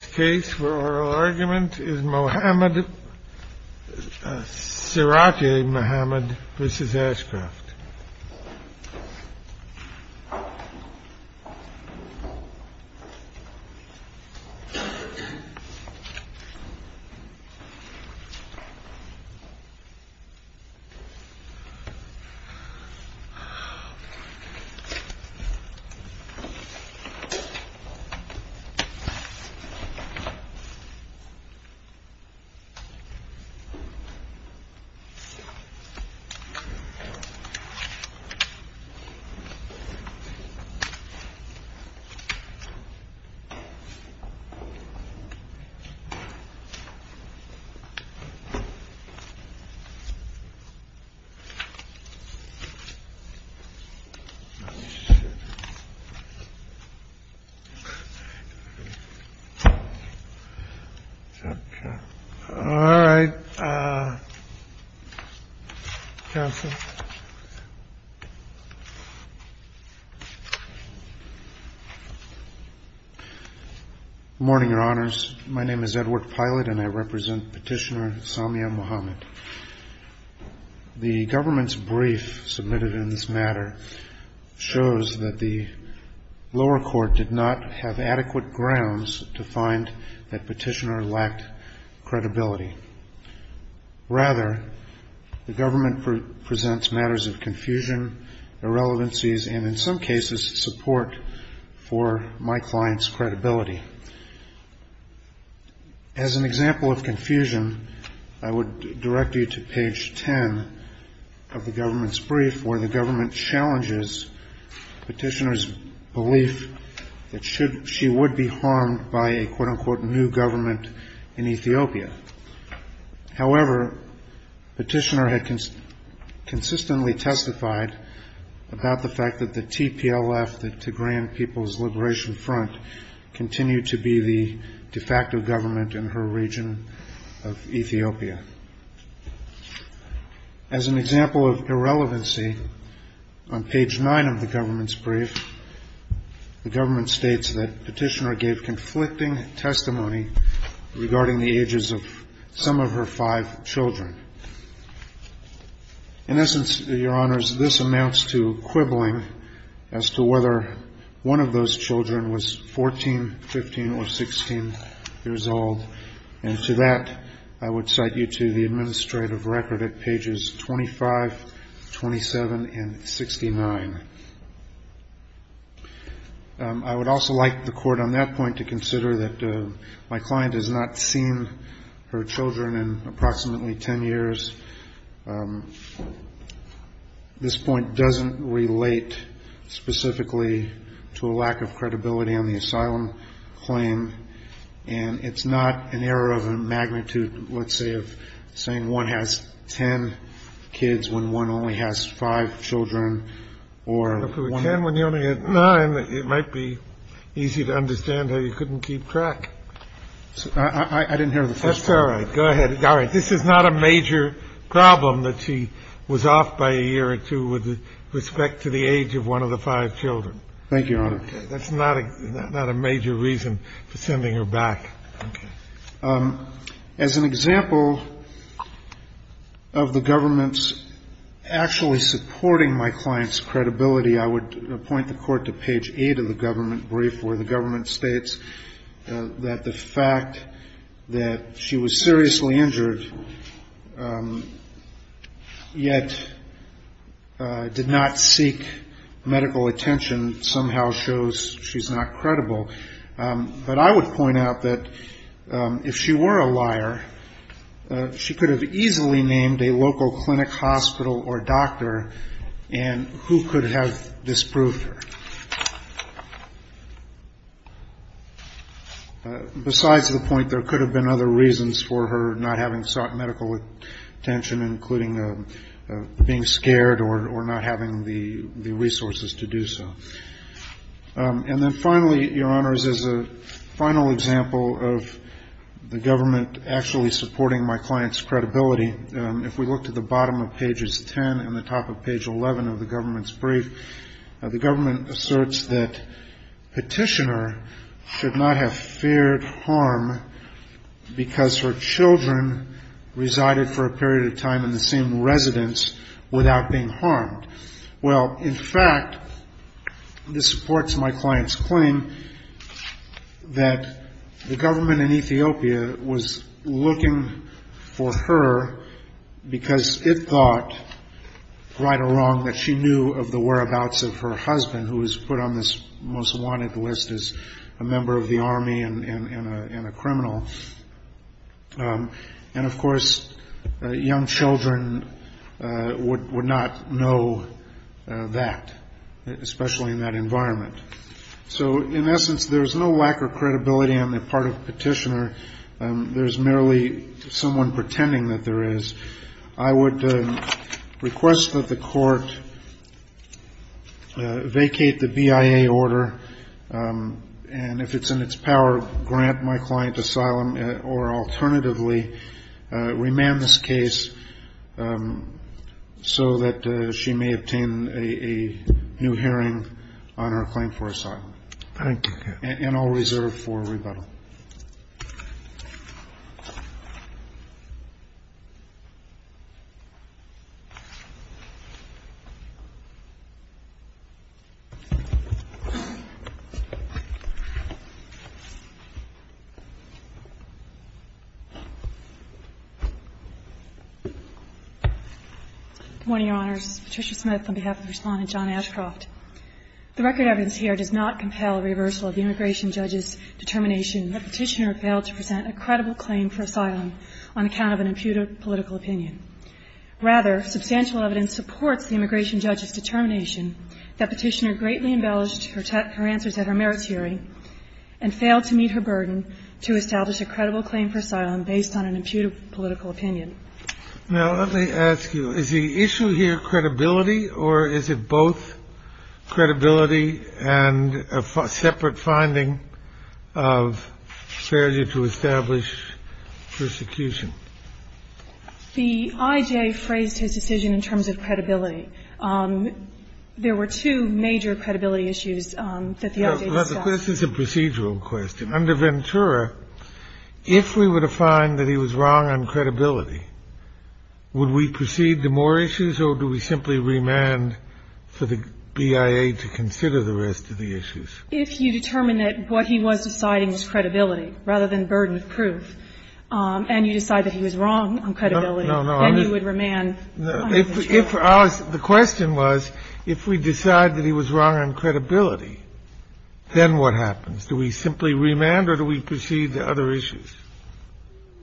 The case for oral argument is Mohammed, Siraj-e-Mohammed v. Ashcroft. The case for oral argument is Siraj-e-Mohammed v. Ashcroft. Edward Pilot, Jr. Morning, Your Honors. My name is Edward Pilot, and I represent Petitioner Samia Mohammed. The government's brief submitted in this matter shows that the lower court did not have adequate grounds to find that petitioner lacked credibility. Rather, the government presents matters of confusion, irrelevancies, and in some cases, support for my client's credibility. As an example of confusion, I would direct you to page 10 of the government's brief, where the government challenges petitioner's belief that she would be harmed by a quote-unquote new government in Ethiopia. However, petitioner had consistently testified about the fact that the TPLF, the Tigrayan People's Liberation Front, continued to be the de facto government in her region of Ethiopia. As an example of irrelevancy, on page 9 of the government's brief, the government states that petitioner gave conflicting testimony regarding the ages of some of her five children. In essence, Your Honors, this amounts to quibbling as to whether one of those children was 14, 15, or 16 years old. And to that, I would cite you to the administrative record at pages 25, 27, and 69. I would also like the court on that point to consider that my client has not seen her children in approximately 10 years. This point doesn't relate specifically to a lack of credibility on the asylum claim, and it's not an error of a magnitude, let's say, of saying one has 10 kids when one only has five children, or one- If it were 10 when you only had 9, it might be easy to understand how you couldn't keep track. I didn't hear the first part. That's all right. Go ahead. All right. This is not a major problem that she was off by a year or two with respect to the age of one of the five children. Thank you, Your Honor. That's not a major reason for sending her back. Okay. As an example of the government's actually supporting my client's credibility, I would point the court to page 8 of the government brief, where the government states that the fact that she was seriously injured yet did not seek medical attention somehow shows she's not credible. But I would point out that if she were a liar, she could have easily named a local clinic, hospital, or doctor, and who could have disproved her? Besides the point, there could have been other reasons for her not having sought medical attention, including being scared or not having the resources to do so. And then finally, Your Honors, as a final example of the government actually supporting my client's credibility, if we look to the bottom of pages 10 and the top of page 11 of the government's brief, the government asserts that Petitioner should not have feared harm because her children resided for a period of time in the same residence without being harmed. Well, in fact, this supports my client's claim that the government in Ethiopia was looking for her because it thought, right or wrong, that she knew of the whereabouts of her husband, who was put on this most wanted list as a member of the army and a criminal. And of course, young children would not know that, especially in that environment. So in essence, there's no lack of credibility on the part of Petitioner. There's merely someone pretending that there is. I would request that the Court vacate the BIA order, and if it's in its power, grant my client asylum or alternatively remand this case so that she may obtain a new hearing on her claim for asylum. Thank you. And I'll reserve for rebuttal. Good morning, Your Honors. Patricia Smith on behalf of the Respondent John Ashcroft. The record evidence here does not compel reversal of the immigration judge's determination that Petitioner failed to present a credible claim for asylum on account of an impudent political opinion. Rather, substantial evidence supports the immigration judge's determination that Petitioner greatly embellished her answers at her merits hearing and failed to meet her burden to establish a credible claim for asylum based on an impudent political opinion. Now, let me ask you, is the issue here credibility, or is it both credibility and a separate finding of failure to establish persecution? The I.J. phrased his decision in terms of credibility. There were two major credibility issues that the I.J. discussed. This is a procedural question. Under Ventura, if we were to find that he was wrong on credibility, would we proceed to more issues, or do we simply remand for the BIA to consider the rest of the issues? If you determine that what he was deciding was credibility rather than burden of proof and you decide that he was wrong on credibility, then you would remand under Ventura. No, no. The question was, if we decide that he was wrong on credibility, then what happens? Do we simply remand or do we proceed to other issues?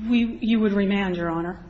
You would remand, Your Honor.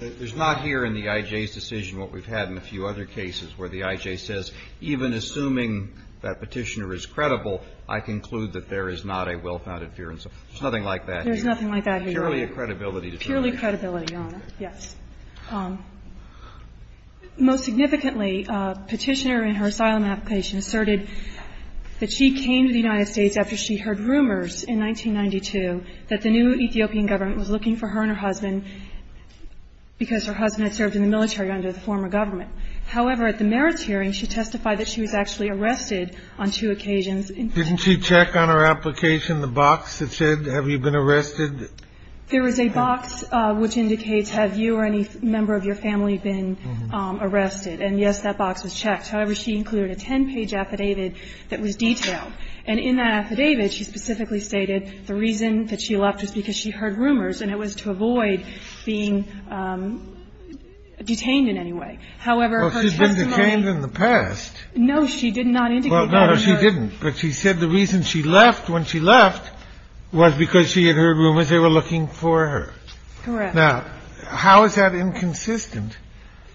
There's not here in the I.J.'s decision what we've had in a few other cases where the I.J. says, even assuming that Petitioner is credible, I conclude that there is not a well-founded fear and so forth. There's nothing like that here. There's nothing like that here, Your Honor. Purely a credibility determination. Purely credibility, Your Honor, yes. Most significantly, Petitioner in her asylum application asserted that she came to the U.S. because she heard rumors in 1992 that the new Ethiopian government was looking for her and her husband because her husband had served in the military under the former government. However, at the merits hearing, she testified that she was actually arrested on two occasions. Didn't she check on her application the box that said, have you been arrested? There is a box which indicates, have you or any member of your family been arrested? And, yes, that box was checked. However, she included a ten-page affidavit that was detailed. And in that affidavit, she specifically stated the reason that she left was because she heard rumors and it was to avoid being detained in any way. However, her testimony was. Well, she's been detained in the past. No, she did not indicate that in her. Well, no, she didn't. But she said the reason she left when she left was because she had heard rumors they were looking for her. Correct. Now, how is that inconsistent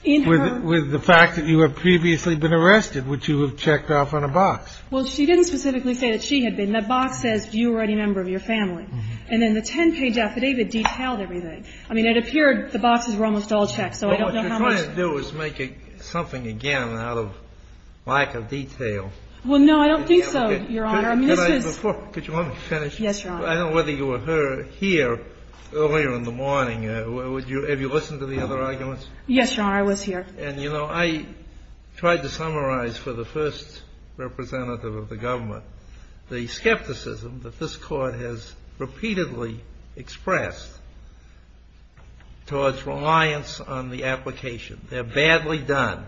with the fact that you have previously been arrested which you have checked off on a box? Well, she didn't specifically say that she had been. That box says, have you or any member of your family? And then the ten-page affidavit detailed everything. I mean, it appeared the boxes were almost all checked, so I don't know how much. Well, what you're trying to do is make something again out of lack of detail. Well, no, I don't think so, Your Honor. I mean, this is. Before, could you let me finish? Yes, Your Honor. I don't know whether you were here earlier in the morning. Have you listened to the other arguments? Yes, Your Honor, I was here. And, you know, I tried to summarize for the first representative of the government the skepticism that this Court has repeatedly expressed towards reliance on the application. They're badly done.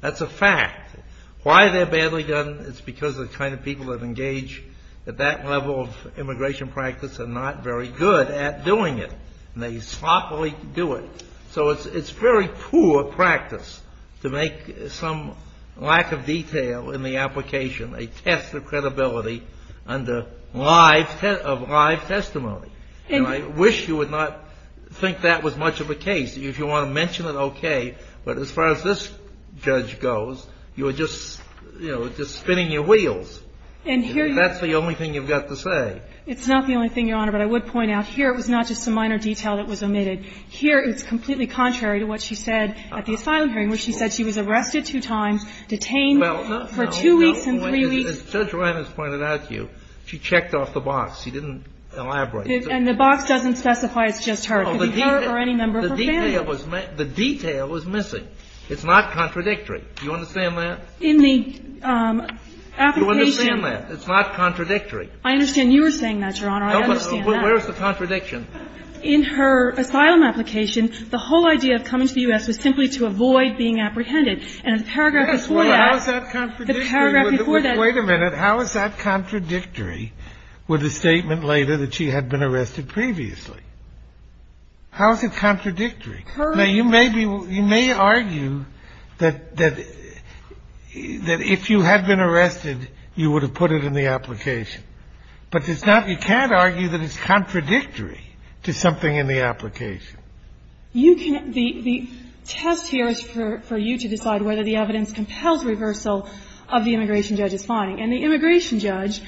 That's a fact. Why are they badly done? It's because the kind of people that engage at that level of immigration practice are not very good at doing it, and they sloppily do it. So it's very poor practice to make some lack of detail in the application a test of credibility under live testimony. And I wish you would not think that was much of a case. If you want to mention it, okay. But as far as this judge goes, you are just, you know, just spinning your wheels. And that's the only thing you've got to say. It's not the only thing, Your Honor. But I would point out here it was not just a minor detail that was omitted. Here it's completely contrary to what she said at the asylum hearing, where she said she was arrested two times, detained for two weeks and three weeks. Well, no, no. As Judge Reines pointed out to you, she checked off the box. She didn't elaborate. And the box doesn't specify it's just her. It could be her or any member of her family. The detail was missing. It's not contradictory. Do you understand that? In the application You understand that. It's not contradictory. I understand you were saying that, Your Honor. I understand that. Where is the contradiction? In her asylum application, the whole idea of coming to the U.S. was simply to avoid being apprehended. And the paragraph before that, the paragraph before that. Wait a minute. How is that contradictory with the statement later that she had been arrested previously? How is it contradictory? Now, you may be, you may argue that if you had been arrested, you would have put it in the application. But it's not, you can't argue that it's contradictory. It's something in the application. You can, the test here is for you to decide whether the evidence compels reversal of the immigration judge's finding. And the immigration judge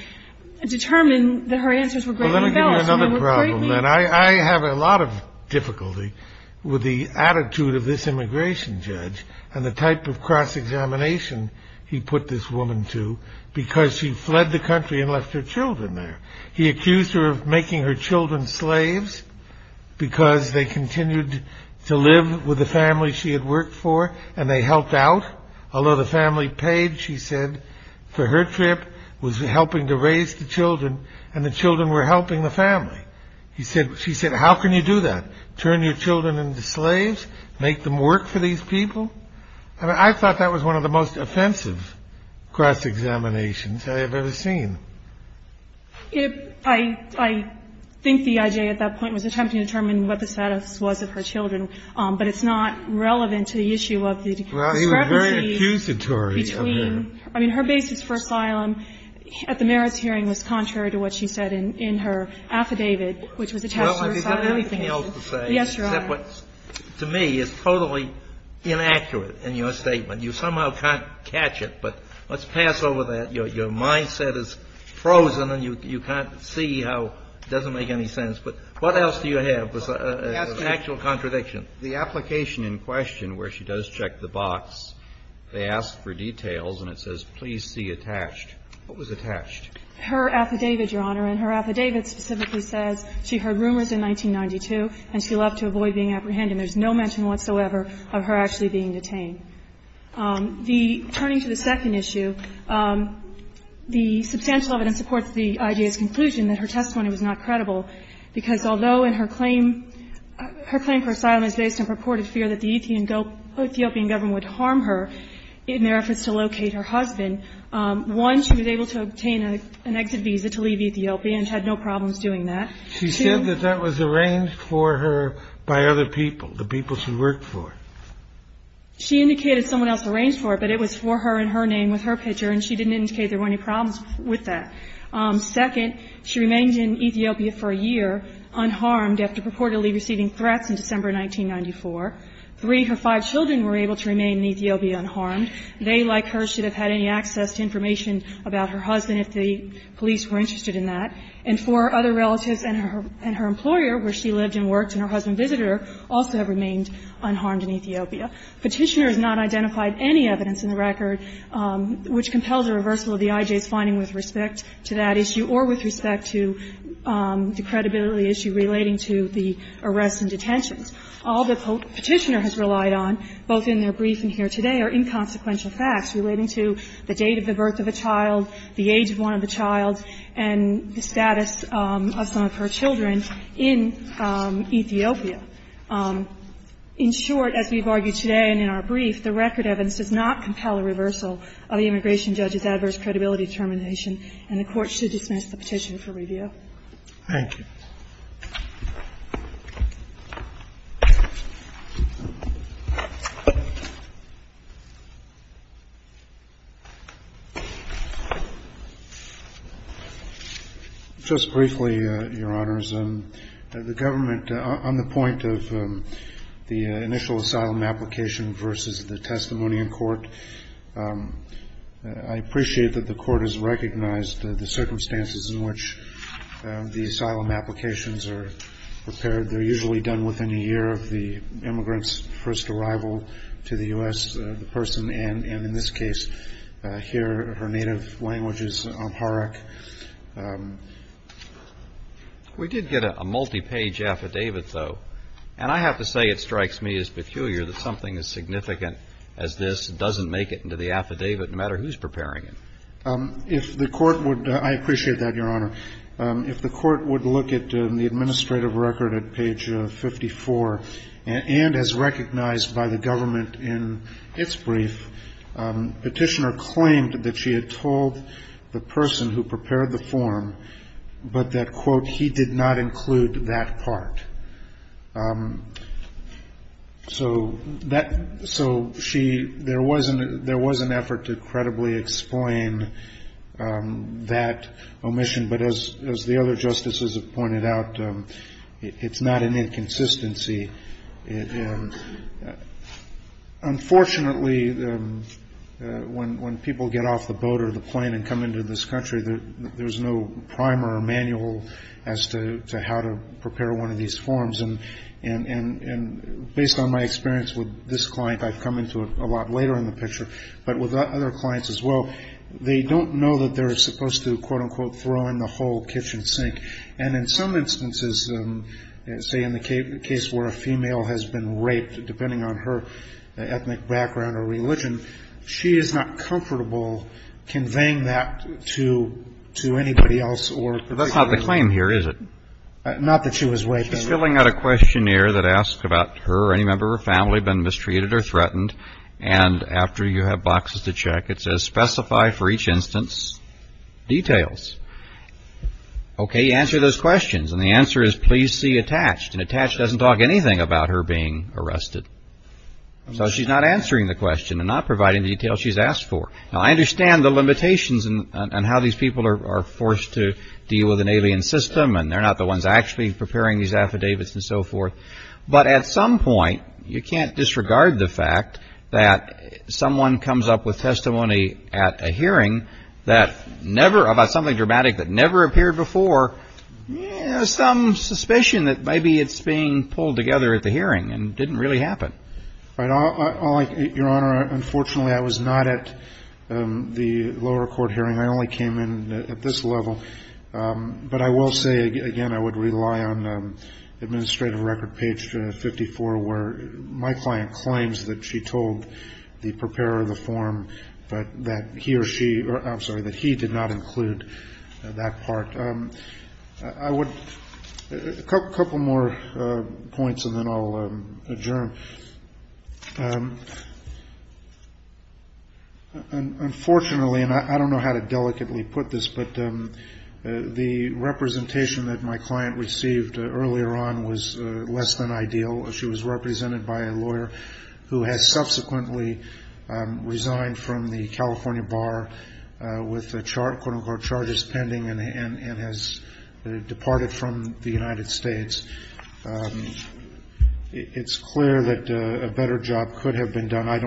determined that her answers were greatly embellished and were greatly. Well, let me give you another problem. I have a lot of difficulty with the attitude of this immigration judge and the type of cross-examination he put this woman to because she fled the country and left her children there. He accused her of making her children slaves because they continued to live with the family she had worked for and they helped out. Although the family paid, she said, for her trip was helping to raise the children and the children were helping the family. He said, she said, how can you do that? Turn your children into slaves, make them work for these people. I mean, I thought that was one of the most offensive cross-examinations I have ever seen. I think the I.J. at that point was attempting to determine what the status was of her children, but it's not relevant to the issue of the discrepancy between. Well, he was very accusatory of her. I mean, her basis for asylum at the merits hearing was contrary to what she said in her affidavit, which was attached to her asylum. Well, is there anything else to say? Yes, Your Honor. Except what, to me, is totally inaccurate in your statement. You somehow can't catch it, but let's pass over that. Your mind-set is frozen and you can't see how it doesn't make any sense. But what else do you have as an actual contradiction? The application in question where she does check the box, they ask for details and it says, please see attached. What was attached? Her affidavit, Your Honor, and her affidavit specifically says she heard rumors in 1992 and she loved to avoid being apprehended. There's no mention whatsoever of her actually being detained. The turning to the second issue, the substantial evidence supports the IDA's conclusion that her testimony was not credible, because although in her claim, her claim for asylum is based on purported fear that the Ethiopian government would harm her in their efforts to locate her husband, one, she was able to obtain an exit visa to leave Ethiopia and had no problems doing that. She said that that was arranged for her by other people, the people she worked She indicated someone else arranged for her, but it was for her and her name with her picture, and she didn't indicate there were any problems with that. Second, she remained in Ethiopia for a year unharmed after purportedly receiving threats in December 1994. Three, her five children were able to remain in Ethiopia unharmed. They, like her, should have had any access to information about her husband if the police were interested in that. And four, her other relatives and her employer, where she lived and worked and her Petitioner has not identified any evidence in the record which compels a reversal of the IJ's finding with respect to that issue or with respect to the credibility issue relating to the arrests and detentions. All the Petitioner has relied on, both in their briefing here today, are inconsequential facts relating to the date of the birth of a child, the age of one of the child, and the status of some of her children in Ethiopia. In short, as we've argued today and in our brief, the record evidence does not compel a reversal of the immigration judge's adverse credibility determination, and the Court should dismiss the Petitioner for review. Thank you. Justice Breyer. Just briefly, Your Honors, the government, on the point of the initial asylum application versus the testimony in court, I appreciate that the Court has recognized the They're usually done within a year of the immigrant's first arrival to the U.S., the person, and in this case, here, her native language is Amharic. We did get a multi-page affidavit, though. And I have to say it strikes me as peculiar that something as significant as this doesn't make it into the affidavit, no matter who's preparing it. If the Court would, I appreciate that, Your Honor. If the Court would look at the administrative record at page 54, and as recognized by the government in its brief, Petitioner claimed that she had told the person who prepared the form, but that, quote, he did not include that part. So there was an effort to credibly explain that omission, but as the other justices have pointed out, it's not an inconsistency. Unfortunately, when people get off the boat or the plane and come into this country, there's no primer or manual as to how to prepare one of these forms. And based on my experience with this client, I've come into it a lot later in the picture, but with other clients as well, they don't know that they're supposed to, quote, unquote, throw in the whole kitchen sink. And in some instances, say, in the case where a female has been raped, depending on her ethnic background or religion, she is not comfortable conveying that to anybody else or particularly. But that's not the claim here, is it? Not that she was raped. She's filling out a questionnaire that asks about her or any member of her family been mistreated or threatened. And after you have boxes to check, it says specify for each instance details. OK, answer those questions. And the answer is please see attached and attached doesn't talk anything about her being arrested. So she's not answering the question and not providing the details she's asked for. Now, I understand the limitations and how these people are forced to deal with an alien system and they're not the ones actually preparing these affidavits and so forth. But at some point, you can't disregard the fact that someone comes up with testimony at a hearing that never, about something dramatic that never appeared before, some suspicion that maybe it's being pulled together at the hearing and didn't really happen. Your Honor, unfortunately, I was not at the lower court hearing. I only came in at this level. But I will say, again, I would rely on administrative record page 54, where my client claims that she told the preparer of the form that he or she, I'm sorry, that he did not include that part. A couple more points and then I'll adjourn. Your Honor, unfortunately, and I don't know how to delicately put this, but the representation that my client received earlier on was less than ideal. She was represented by a lawyer who has subsequently resigned from the California bar with, quote, unquote, charges pending and has departed from the United States. It's clear that a better job could have been done. I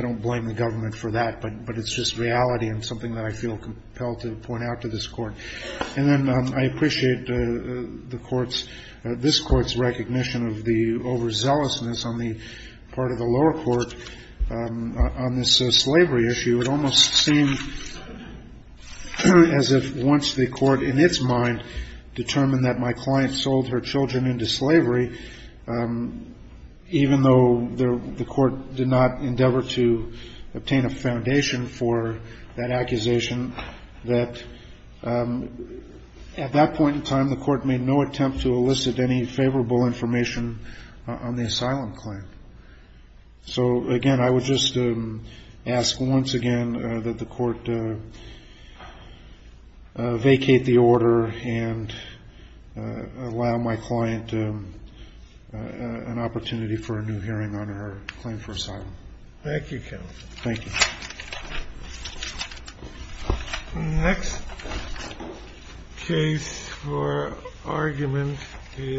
don't blame the government for that, but it's just reality and something that I feel compelled to point out to this Court. And then I appreciate the Court's, this Court's recognition of the overzealousness on the part of the lower court on this slavery issue. It almost seemed as if once the Court in its mind determined that my client sold her children into slavery, even though the Court did not endeavor to obtain a foundation for that accusation, that at that point in time the Court made no attempt to elicit any favorable information on the asylum claim. So, again, I would just ask once again that the Court vacate the order and allow my client an opportunity for a new hearing on her claim for asylum. Thank you, Counsel. Thank you. The next case for argument is...